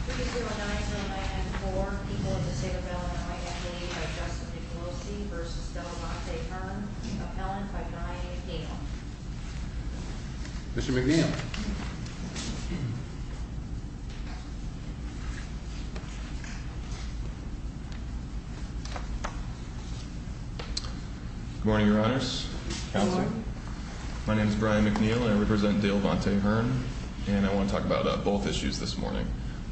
3-0-9-0-9-4. People in the State of Maryland are identified by Justice DeColosi v. Dale Vontae Hearn. Appellant by Brian McNeil. Mr. McNeil. Good morning, Your Honors. Counselor. Good morning. My name is Brian McNeil and I represent Dale Vontae Hearn and I want to talk about both issues this morning,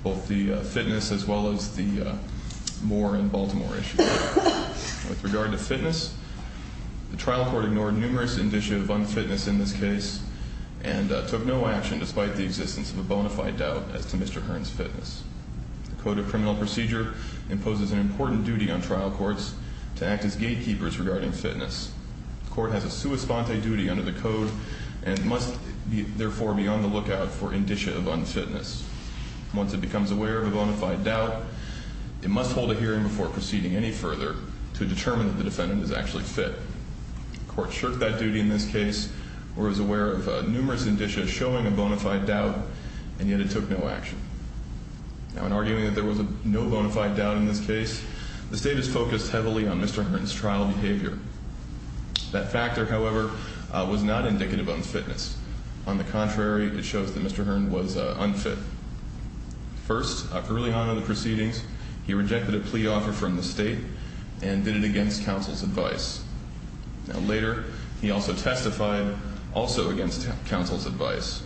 both the fitness as well as the Moore and Baltimore issues. With regard to fitness, the trial court ignored numerous indicia of unfitness in this case and took no action despite the existence of a bona fide doubt as to Mr. Hearn's fitness. The Code of Criminal Procedure imposes an important duty on trial courts to act as gatekeepers regarding fitness. The court has a sua sponte duty under the Code and must therefore be on the lookout for indicia of unfitness. Once it becomes aware of a bona fide doubt, it must hold a hearing before proceeding any further to determine that the defendant is actually fit. The court shirked that duty in this case where it was aware of numerous indicia showing a bona fide doubt and yet it took no action. Now, in arguing that there was no bona fide doubt in this case, the state has focused heavily on Mr. Hearn's trial behavior. That factor, however, was not indicative of unfitness. On the contrary, it shows that Mr. Hearn was unfit. First, after early on in the proceedings, he rejected a plea offer from the state and did it against counsel's advice. Now, later, he also testified also against counsel's advice.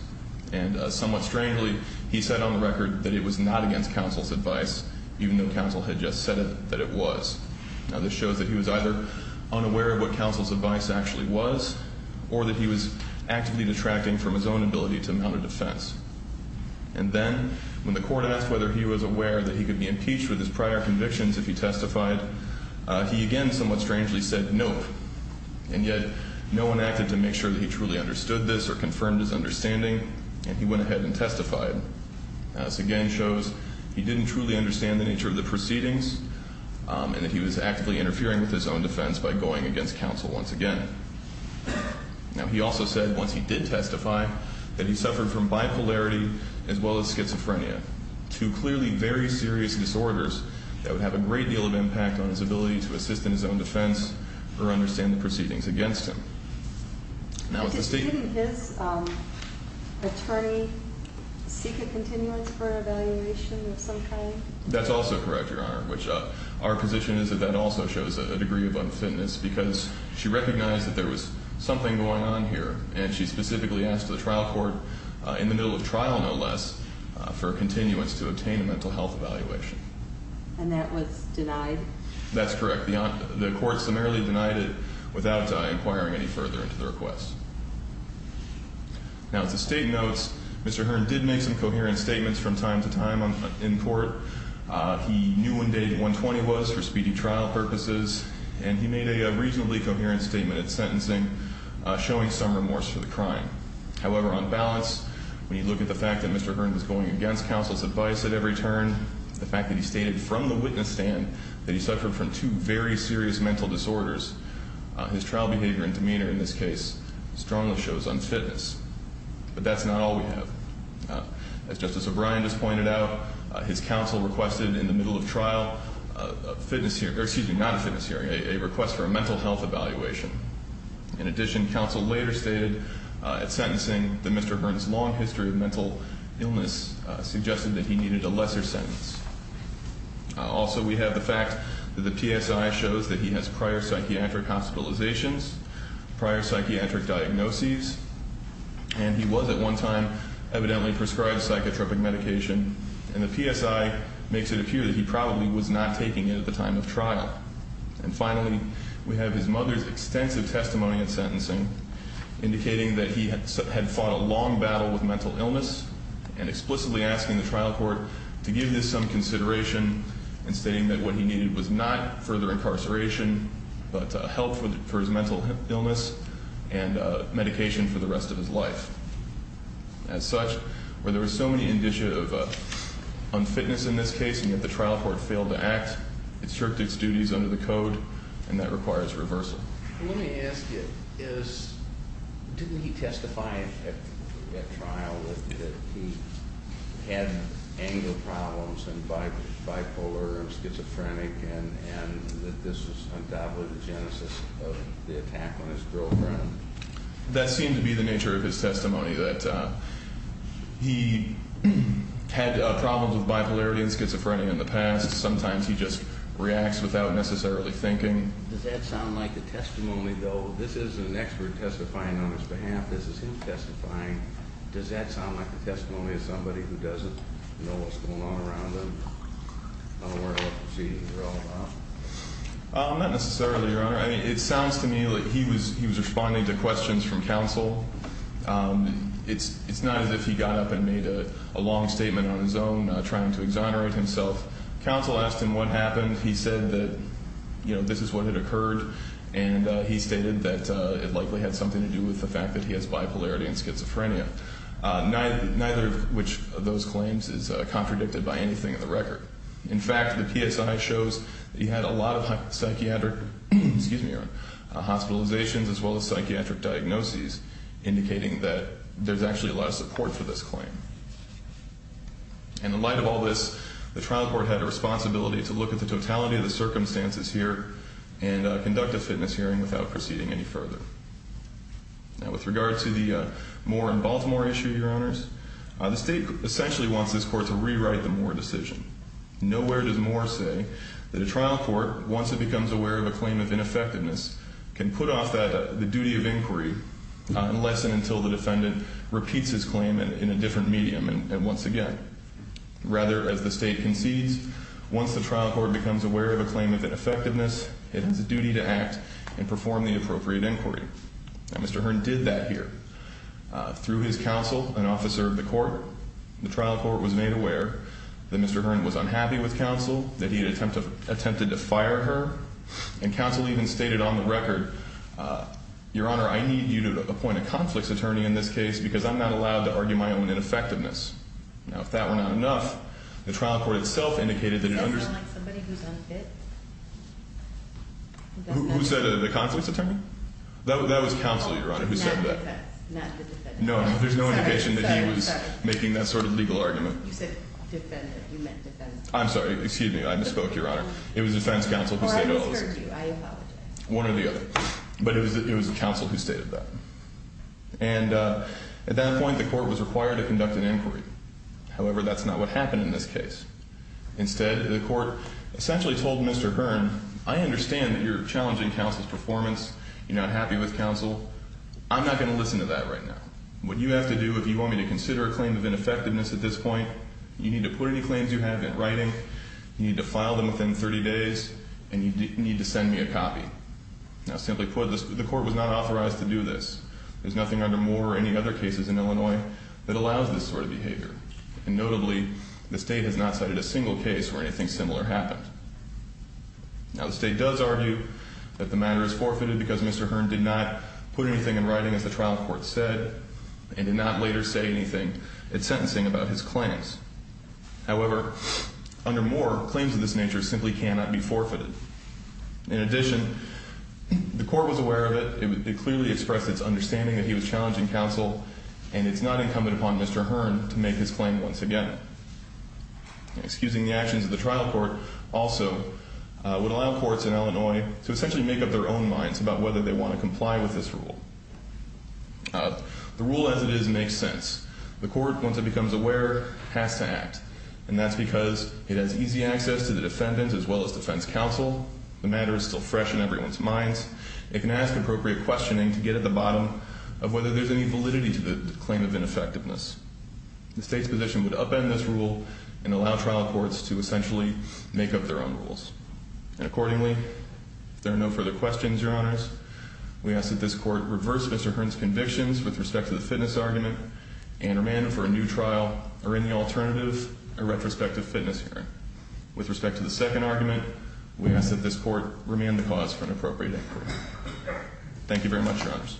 And somewhat strangely, he said on the record that it was not against counsel's advice, even though counsel had just said that it was. Now, this shows that he was either unaware of what counsel's advice actually was or that he was actively detracting from his own ability to mount a defense. And then when the court asked whether he was aware that he could be impeached with his prior convictions if he testified, he again somewhat strangely said nope. And yet no one acted to make sure that he truly understood this or confirmed his understanding, and he went ahead and testified. Now, this again shows he didn't truly understand the nature of the proceedings and that he was actively interfering with his own defense by going against counsel once again. Now, he also said once he did testify that he suffered from bipolarity as well as schizophrenia, two clearly very serious disorders that would have a great deal of impact on his ability to assist in his own defense or understand the proceedings against him. Now, the state- Didn't his attorney seek a continuance for evaluation of some kind? That's also correct, Your Honor, which our position is that that also shows a degree of unfitness because she recognized that there was something going on here, and she specifically asked the trial court in the middle of trial, no less, for a continuance to obtain a mental health evaluation. And that was denied? That's correct. The court summarily denied it without inquiring any further into the request. Now, as the state notes, Mr. Hearn did make some coherent statements from time to time in court. He knew when day 120 was for speedy trial purposes, and he made a reasonably coherent statement at sentencing, showing some remorse for the crime. However, on balance, when you look at the fact that Mr. Hearn was going against counsel's advice at every turn, the fact that he stated from the witness stand that he suffered from two very serious mental disorders, his trial behavior and demeanor in this case strongly shows unfitness. But that's not all we have. As Justice O'Brien just pointed out, his counsel requested in the middle of trial a request for a mental health evaluation. In addition, counsel later stated at sentencing that Mr. Hearn's long history of mental illness suggested that he needed a lesser sentence. Also, we have the fact that the PSI shows that he has prior psychiatric hospitalizations, prior psychiatric diagnoses, and he was at one time evidently prescribed psychotropic medication, and the PSI makes it appear that he probably was not taking it at the time of trial. And finally, we have his mother's extensive testimony at sentencing, indicating that he had fought a long battle with mental illness and explicitly asking the trial court to give this some consideration and stating that what he needed was not further incarceration but help for his mental illness and medication for the rest of his life. As such, there were so many indicia of unfitness in this case, and yet the trial court failed to act. It stripped its duties under the code, and that requires reversal. Let me ask you, didn't he testify at trial that he had anger problems and bipolar and schizophrenic and that this was undoubtedly the genesis of the attack on his girlfriend? That seemed to be the nature of his testimony, that he had problems with bipolarity and schizophrenia in the past. Sometimes he just reacts without necessarily thinking. Does that sound like the testimony, though? This is an expert testifying on his behalf. This is him testifying. Does that sound like the testimony of somebody who doesn't know what's going on around them, unaware of what proceedings are all about? Not necessarily, Your Honor. I mean, it sounds to me like he was responding to questions from counsel. It's not as if he got up and made a long statement on his own, trying to exonerate himself. Counsel asked him what happened. He said that this is what had occurred, and he stated that it likely had something to do with the fact that he has bipolarity and schizophrenia. Neither of those claims is contradicted by anything in the record. In fact, the PSI shows that he had a lot of psychiatric hospitalizations as well as psychiatric diagnoses, indicating that there's actually a lot of support for this claim. In the light of all this, the trial court had a responsibility to look at the totality of the circumstances here and conduct a fitness hearing without proceeding any further. Now, with regard to the Moore and Baltimore issue, Your Honors, the state essentially wants this court to rewrite the Moore decision. Nowhere does Moore say that a trial court, once it becomes aware of a claim of ineffectiveness, can put off the duty of inquiry unless and until the defendant repeats his claim in a different medium once again. Rather, as the state concedes, once the trial court becomes aware of a claim of ineffectiveness, it has a duty to act and perform the appropriate inquiry. Now, Mr. Hearn did that here. Through his counsel, an officer of the court, the trial court was made aware that Mr. Hearn was unhappy with counsel, that he had attempted to fire her, and counsel even stated on the record, Your Honor, I need you to appoint a conflicts attorney in this case because I'm not allowed to argue my own ineffectiveness. Now, if that were not enough, the trial court itself indicated that it understood... Does that sound like somebody who's unfit? Who said the conflicts attorney? That was counsel, Your Honor, who said that. Oh, not the defendant. No, there's no indication that he was making that sort of legal argument. You said defendant. You meant defense attorney. I'm sorry. Excuse me. I misspoke, Your Honor. It was defense counsel who said... Oh, I misheard you. I apologize. One or the other. But it was counsel who stated that. And at that point, the court was required to conduct an inquiry. However, that's not what happened in this case. Instead, the court essentially told Mr. Hearn, I understand that you're challenging counsel's performance. You're not happy with counsel. I'm not going to listen to that right now. What you have to do if you want me to consider a claim of ineffectiveness at this point, you need to put any claims you have in writing, you need to file them within 30 days, and you need to send me a copy. Now, simply put, the court was not authorized to do this. There's nothing under Moore or any other cases in Illinois that allows this sort of behavior. And notably, the state has not cited a single case where anything similar happened. Now, the state does argue that the matter is forfeited because Mr. Hearn did not put anything in writing, as the trial court said, and did not later say anything at sentencing about his claims. However, under Moore, claims of this nature simply cannot be forfeited. In addition, the court was aware of it. It clearly expressed its understanding that he was challenging counsel, and it's not incumbent upon Mr. Hearn to make his claim once again. Excusing the actions of the trial court also would allow courts in Illinois to essentially make up their own minds about whether they want to comply with this rule. The rule as it is makes sense. The court, once it becomes aware, has to act, and that's because it has easy access to the defendant as well as defense counsel. The matter is still fresh in everyone's minds. It can ask appropriate questioning to get at the bottom of whether there's any validity to the claim of ineffectiveness. The state's position would upend this rule and allow trial courts to essentially make up their own rules. And accordingly, if there are no further questions, Your Honors, we ask that this court reverse Mr. Hearn's convictions with respect to the fitness argument and remand him for a new trial or any alternative, a retrospective fitness hearing. With respect to the second argument, we ask that this court remand the cause for an appropriate inquiry. Thank you very much, Your Honors.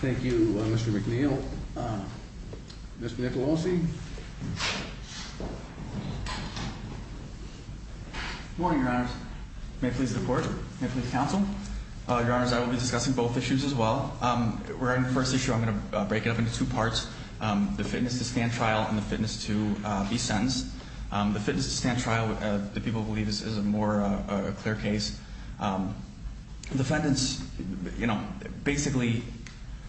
Thank you, Mr. McNeil. Mr. Nicolosi? Good morning, Your Honors. May I please report? May I please counsel? Your Honors, I will be discussing both issues as well. Regarding the first issue, I'm going to break it up into two parts, the fitness to stand trial and the fitness to be sentenced. The fitness to stand trial, the people believe, is a more clear case. Defendants, you know, basically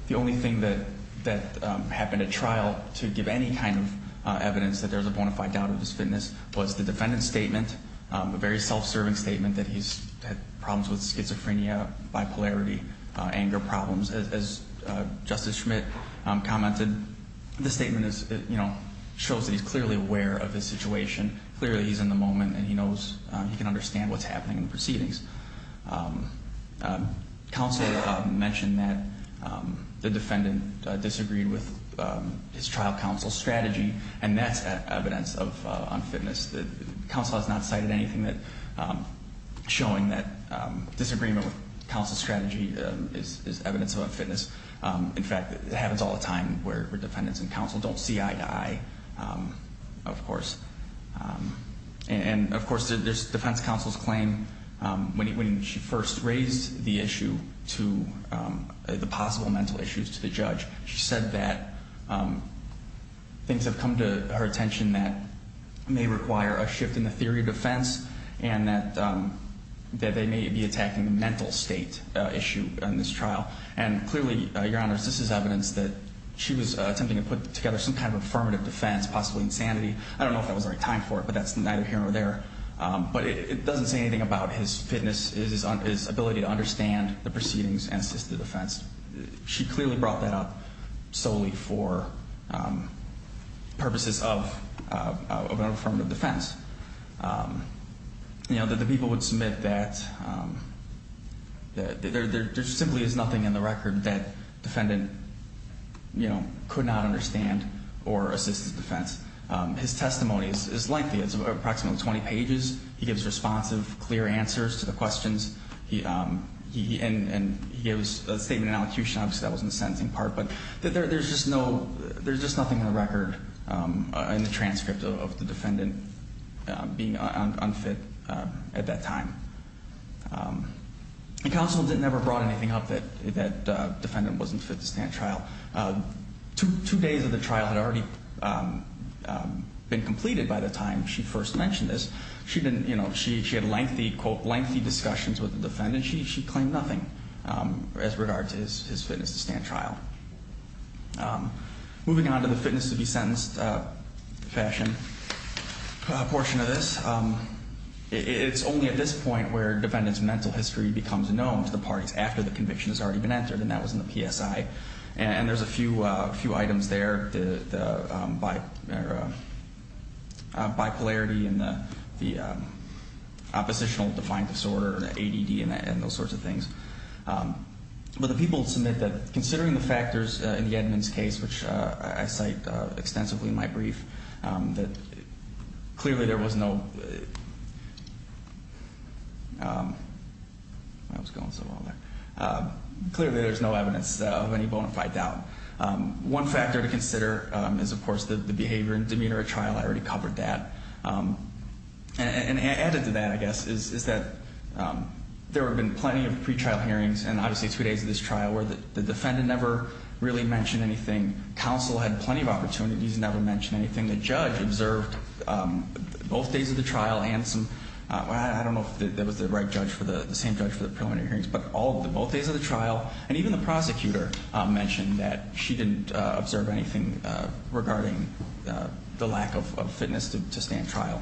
the only thing that happened at trial to give any kind of evidence that there's a bona fide doubt of his fitness was the defendant's statement, a very self-serving statement that he's had problems with schizophrenia, bipolarity, anger problems. As Justice Schmidt commented, the statement shows that he's clearly aware of his situation, clearly he's in the moment, and he knows he can understand what's happening in the proceedings. And that's evidence of unfitness. Counsel has not cited anything showing that disagreement with counsel's strategy is evidence of unfitness. In fact, it happens all the time where defendants and counsel don't see eye to eye, of course. And, of course, there's defense counsel's claim, when she first raised the issue to the possible mental issues to the judge, she said that things have come to her attention that may require a shift in the theory of defense and that they may be attacking the mental state issue in this trial. And clearly, Your Honors, this is evidence that she was attempting to put together some kind of affirmative defense, possibly insanity. I don't know if that was the right time for it, but that's neither here nor there. But it doesn't say anything about his fitness, his ability to understand the proceedings and assist the defense. She clearly brought that up solely for purposes of an affirmative defense. You know, the people would submit that there simply is nothing in the record that defendant, you know, could not understand or assist his defense. His testimony is lengthy. It's approximately 20 pages. He gives responsive, clear answers to the questions. And he gives a statement in elocution. Obviously, that wasn't the sentencing part. But there's just nothing in the record in the transcript of the defendant being unfit at that time. And counsel never brought anything up that defendant wasn't fit to stand trial. Two days of the trial had already been completed by the time she first mentioned this. She had lengthy, quote, lengthy discussions with the defendant. She claimed nothing as regards to his fitness to stand trial. Moving on to the fitness to be sentenced fashion portion of this, it's only at this point where defendant's mental history becomes known to the parties after the conviction has already been entered, and that was in the PSI. And there's a few items there, the bipolarity and the oppositional defiant disorder, ADD, and those sorts of things. But the people submit that considering the factors in the Edmunds case, which I cite extensively in my brief, that clearly there was no evidence of any bona fide doubt. One factor to consider is, of course, the behavior and demeanor at trial. I already covered that. And added to that, I guess, is that there have been plenty of pretrial hearings, and obviously two days of this trial, where the defendant never really mentioned anything. Counsel had plenty of opportunities, never mentioned anything. The judge observed both days of the trial and some, I don't know if that was the right judge for the, the same judge for the preliminary hearings, but all of the, both days of the trial, and even the prosecutor mentioned that she didn't observe anything regarding the lack of fitness to stand trial.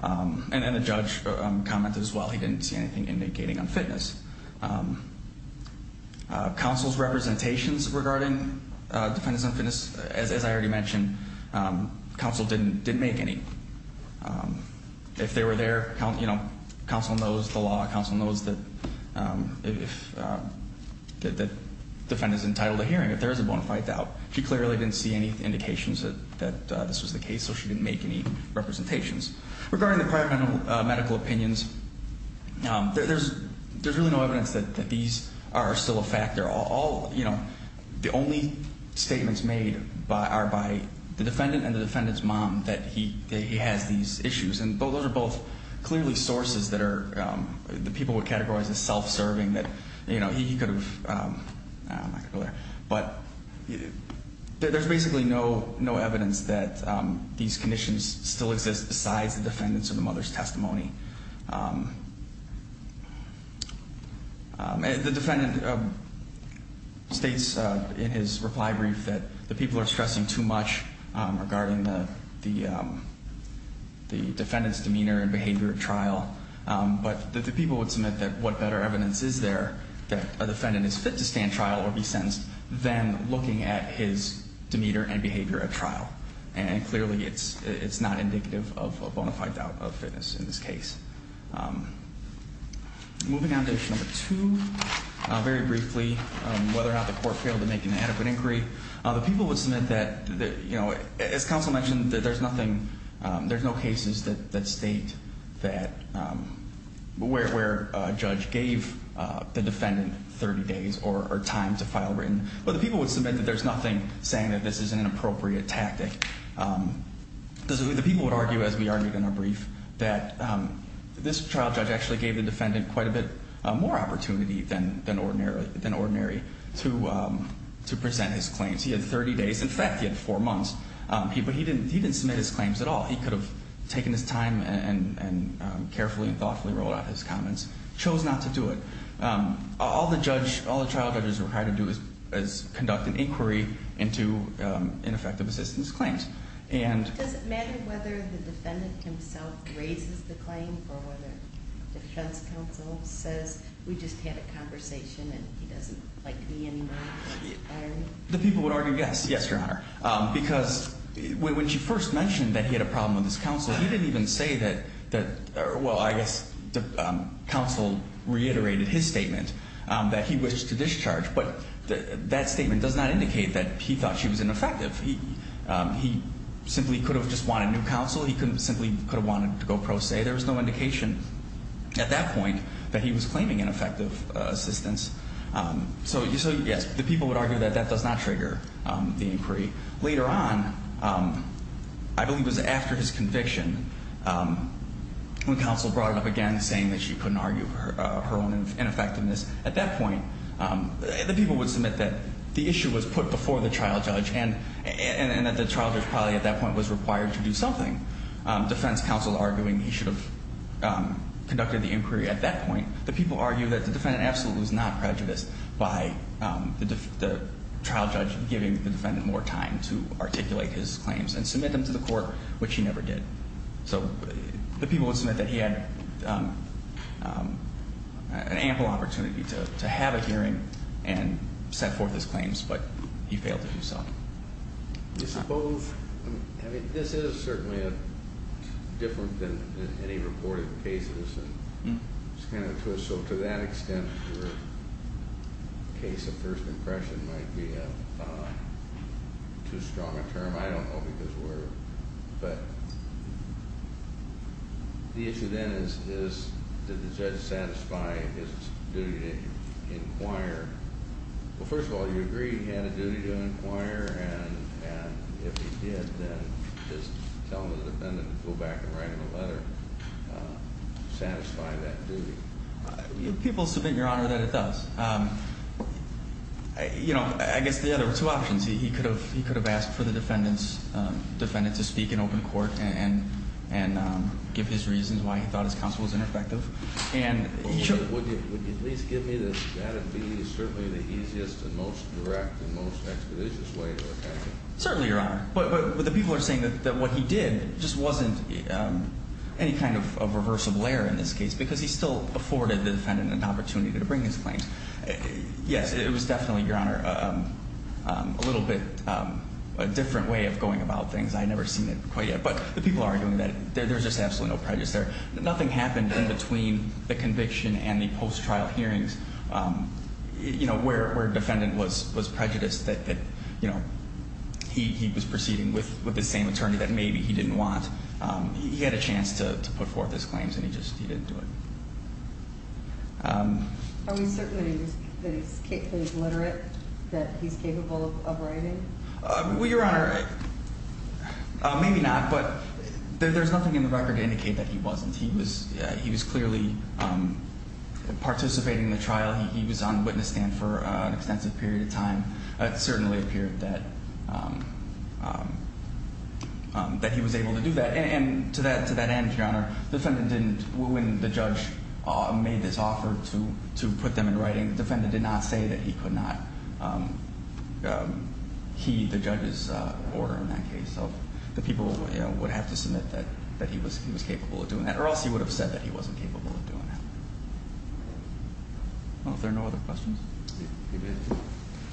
And then the judge commented as well, he didn't see anything indicating on fitness. Counsel's representations regarding defendants on fitness, as I already mentioned, counsel didn't make any. If they were there, you know, counsel knows the law. Counsel knows that defendants entitled to hearing, if there is a bona fide doubt. She clearly didn't see any indications that this was the case, so she didn't make any representations. Regarding the prior medical opinions, there's really no evidence that these are still a fact. They're all, you know, the only statements made are by the defendant and the defendant's mom that he has these issues. And those are both clearly sources that are, the people would categorize as self-serving, that, you know, he could have, but there's basically no evidence that these conditions still exist besides the defendant's or the mother's testimony. The defendant states in his reply brief that the people are stressing too much regarding the defendant's demeanor and behavior at trial, but the people would submit that what better evidence is there that a defendant is fit to stand trial or be sentenced than looking at his demeanor and behavior at trial. And clearly it's not indicative of a bona fide doubt of fitness in this case. Moving on to issue number two, very briefly, whether or not the court failed to make an adequate inquiry. The people would submit that, you know, as counsel mentioned, that there's nothing, there's no cases that state that, where a judge gave the defendant 30 days or time to file written, but the people would submit that there's nothing saying that this is an inappropriate tactic. The people would argue, as we argued in our brief, that this trial judge actually gave the defendant quite a bit more opportunity than ordinary to present his claims. He had 30 days. In fact, he had four months. He didn't submit his claims at all. He could have taken his time and carefully and thoughtfully wrote out his comments, chose not to do it. All the trial judges are required to do is conduct an inquiry into ineffective assistance claims. Does it matter whether the defendant himself raises the claim or whether defense counsel says, we just had a conversation and he doesn't like me anymore? The people would argue yes, yes, Your Honor. Because when she first mentioned that he had a problem with his counsel, he didn't even say that, well, I guess counsel reiterated his statement that he wished to discharge. But that statement does not indicate that he thought she was ineffective. He simply could have just wanted new counsel. He simply could have wanted to go pro se. There was no indication at that point that he was claiming ineffective assistance. So, yes, the people would argue that that does not trigger the inquiry. Later on, I believe it was after his conviction, when counsel brought it up again saying that she couldn't argue her own ineffectiveness, at that point the people would submit that the issue was put before the trial judge and that the trial judge probably at that point was required to do something. Defense counsel arguing he should have conducted the inquiry at that point. The people argue that the defendant absolutely was not prejudiced by the trial judge giving the defendant more time to articulate his claims and submit them to the court, which he never did. So the people would submit that he had an ample opportunity to have a hearing and set forth his claims, but he failed to do so. I mean, this is certainly different than any reported cases. So to that extent, your case of first impression might be too strong a term. I don't know because we're, but the issue then is did the judge satisfy his duty to inquire? Well, first of all, you agree he had a duty to inquire, and if he did, then just tell the defendant to go back and write him a letter. Satisfy that duty. People submit, Your Honor, that it does. I guess the other two options, he could have asked for the defendant to speak in open court and give his reasons why he thought his counsel was ineffective. Would you at least give me that that would be certainly the easiest and most direct and most expeditious way to attack him? Certainly, Your Honor. But the people are saying that what he did just wasn't any kind of reversible error in this case because he still afforded the defendant an opportunity to bring his claims. Yes, it was definitely, Your Honor, a little bit a different way of going about things. I had never seen it quite yet. But the people are arguing that there's just absolutely no prejudice there. Nothing happened in between the conviction and the post-trial hearings, you know, where a defendant was prejudiced that, you know, he was proceeding with the same attorney that maybe he didn't want. He had a chance to put forth his claims and he just didn't do it. Are we certain that he's literate, that he's capable of writing? Well, Your Honor, maybe not, but there's nothing in the record to indicate that he wasn't. He was clearly participating in the trial. He was on witness stand for an extensive period of time. It certainly appeared that he was able to do that. And to that end, Your Honor, the defendant didn't, when the judge made this offer to put them in writing, the defendant did not say that he could not key the judge's order in that case. So the people, you know, would have to submit that he was capable of doing that or else he would have said that he wasn't capable of doing that. Are there no other questions?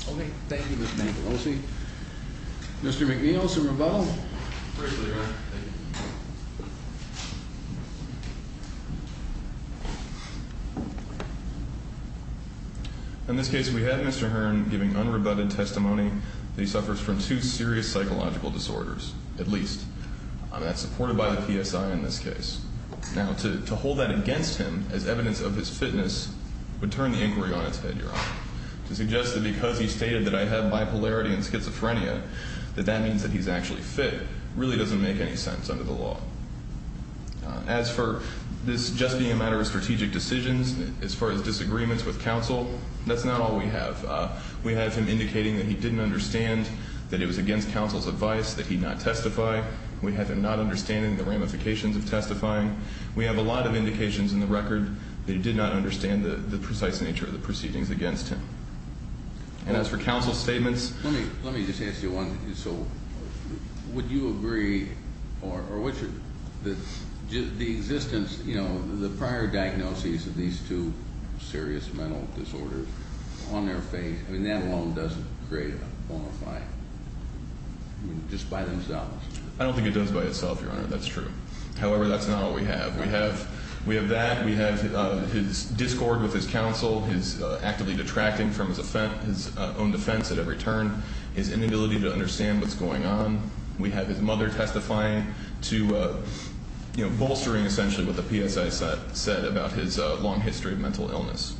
Okay, thank you, Mr. Mangarossi. Mr. McNeil, some rebuttal? Greatly, Your Honor. Thank you. In this case, we have Mr. Hearn giving unrebutted testimony that he suffers from two serious psychological disorders, at least. That's supported by the PSI in this case. Now, to hold that against him as evidence of his fitness would turn the inquiry on its head, Your Honor. To suggest that because he stated that I have bipolarity and schizophrenia, that that means that he's actually fit, really doesn't make any sense under the law. As for this just being a matter of strategic decisions, as far as disagreements with counsel, that's not all we have. We have him indicating that he didn't understand that it was against counsel's advice that he not testify. We have him not understanding the ramifications of testifying. We have a lot of indications in the record that he did not understand the precise nature of the proceedings against him. And as for counsel's statements... Let me just ask you one. So would you agree or would you... The existence, you know, the prior diagnoses of these two serious mental disorders on their face, I mean, that alone doesn't create a bonafide, just by themselves. I don't think it does by itself, Your Honor. That's true. However, that's not all we have. We have that. We have his discord with his counsel, his actively detracting from his own defense at every turn, his inability to understand what's going on. We have his mother testifying to, you know, bolstering essentially what the PSI said about his long history of mental illness.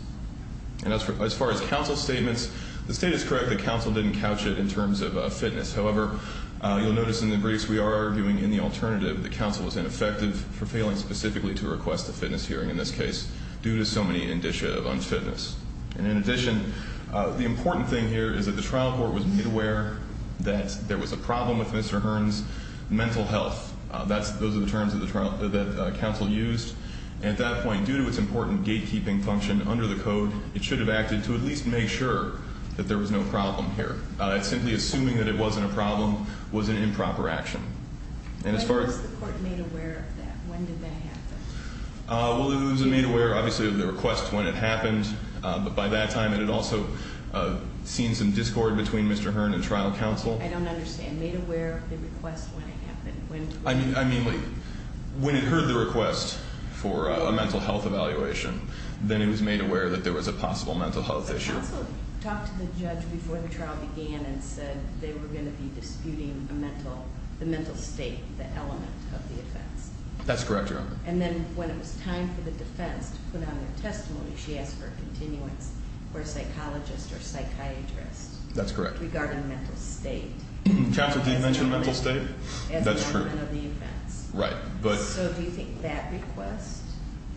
And as far as counsel's statements, the state is correct that counsel didn't couch it in terms of fitness. However, you'll notice in the briefs we are arguing in the alternative that counsel was ineffective for failing specifically to request a fitness hearing, in this case, due to so many indicia of unfitness. And in addition, the important thing here is that the trial court was made aware that there was a problem with Mr. Hearn's mental health. Those are the terms that counsel used. And at that point, due to its important gatekeeping function under the code, it should have acted to at least make sure that there was no problem here. Simply assuming that it wasn't a problem was an improper action. And as far as the court made aware of that, when did that happen? Well, it was made aware, obviously, of the request when it happened. But by that time, it had also seen some discord between Mr. Hearn and trial counsel. I don't understand. Made aware of the request when it happened. I mean, when it heard the request for a mental health evaluation, then it was made aware that there was a possible mental health issue. But counsel talked to the judge before the trial began and said they were going to be disputing the mental state, the element of the offense. That's correct, Your Honor. And then when it was time for the defense to put on their testimony, she asked for a continuance for a psychologist or psychiatrist. That's correct. Regarding mental state. Catherine, did you mention mental state? That's true. As an element of the offense. Right. So do you think that request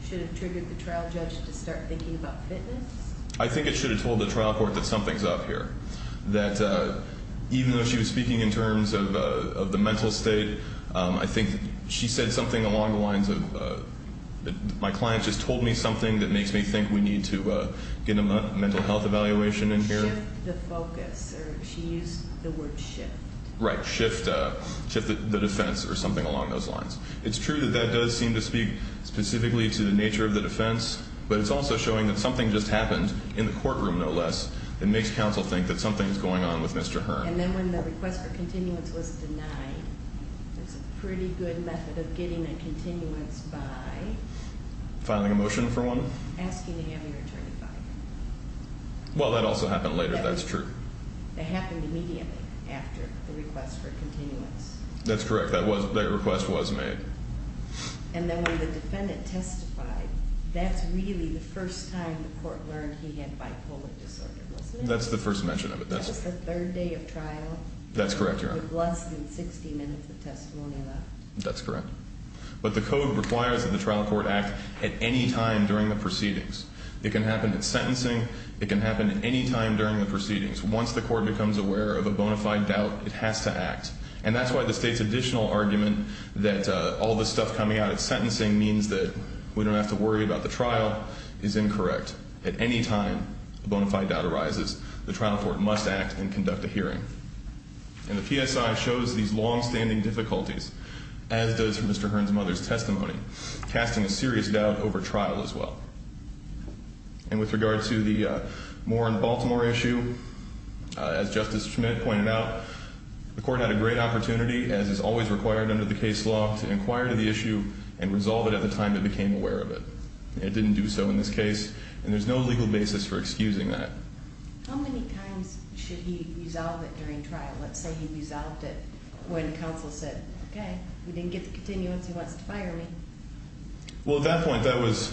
should have triggered the trial judge to start thinking about fitness? I think it should have told the trial court that something's up here. That even though she was speaking in terms of the mental state, I think she said something along the lines of, my client just told me something that makes me think we need to get a mental health evaluation in here. Shift the focus, or she used the word shift. Right, shift the defense or something along those lines. It's true that that does seem to speak specifically to the nature of the defense, but it's also showing that something just happened in the courtroom, no less, that makes counsel think that something's going on with Mr. Hearn. And then when the request for continuance was denied, it's a pretty good method of getting a continuance by? Filing a motion for one. Asking to have it returned by. Well, that also happened later. That's true. It happened immediately after the request for continuance. That's correct. That request was made. And then when the defendant testified, that's really the first time the court learned he had bipolar disorder, wasn't it? That's the first mention of it. That was the third day of trial. That's correct, Your Honor. With less than 60 minutes of testimony left. That's correct. But the code requires that the trial court act at any time during the proceedings. It can happen at sentencing. It can happen at any time during the proceedings. Once the court becomes aware of a bona fide doubt, it has to act. And that's why the state's additional argument that all this stuff coming out at sentencing means that we don't have to worry about the trial is incorrect. At any time a bona fide doubt arises, the trial court must act and conduct a hearing. And the PSI shows these longstanding difficulties, as does Mr. Hearn's mother's testimony, casting a serious doubt over trial as well. And with regard to the Moore and Baltimore issue, as Justice Schmidt pointed out, the court had a great opportunity, as is always required under the case law, to inquire into the issue and resolve it at the time it became aware of it. It didn't do so in this case, and there's no legal basis for excusing that. How many times should he resolve it during trial? Let's say he resolved it when counsel said, okay, we didn't get the continuance, he wants to fire me. Well, at that point, that was,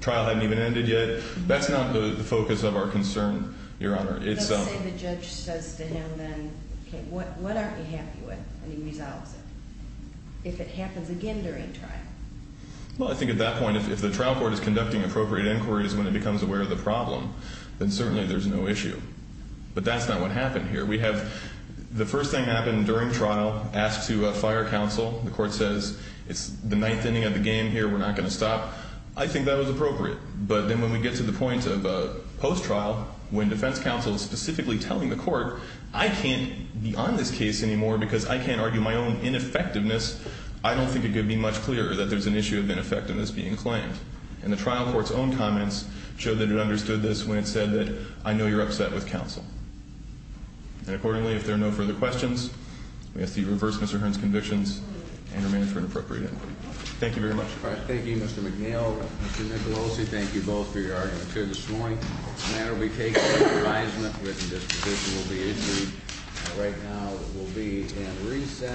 trial hadn't even ended yet. That's not the focus of our concern, Your Honor. Let's say the judge says to him then, okay, what aren't you happy with? And he resolves it. If it happens again during trial. Well, I think at that point, if the trial court is conducting appropriate inquiries when it becomes aware of the problem, then certainly there's no issue. But that's not what happened here. We have, the first thing that happened during trial, asked to fire counsel. The court says, it's the ninth inning of the game here, we're not going to stop. I think that was appropriate. But then when we get to the point of post-trial, when defense counsel is specifically telling the court, I can't be on this case anymore because I can't argue my own ineffectiveness, I don't think it could be much clearer that there's an issue of ineffectiveness being claimed. And the trial court's own comments show that it understood this when it said that, I know you're upset with counsel. And accordingly, if there are no further questions, we ask that you reverse Mr. Hearn's convictions and remain for an appropriate inquiry. Thank you very much. All right, thank you, Mr. McNeil, Mr. Nicolosi. Thank you both for your arguments here this morning. The matter will be taken into advisement with the disposition will be issued. Right now, we'll be at recess.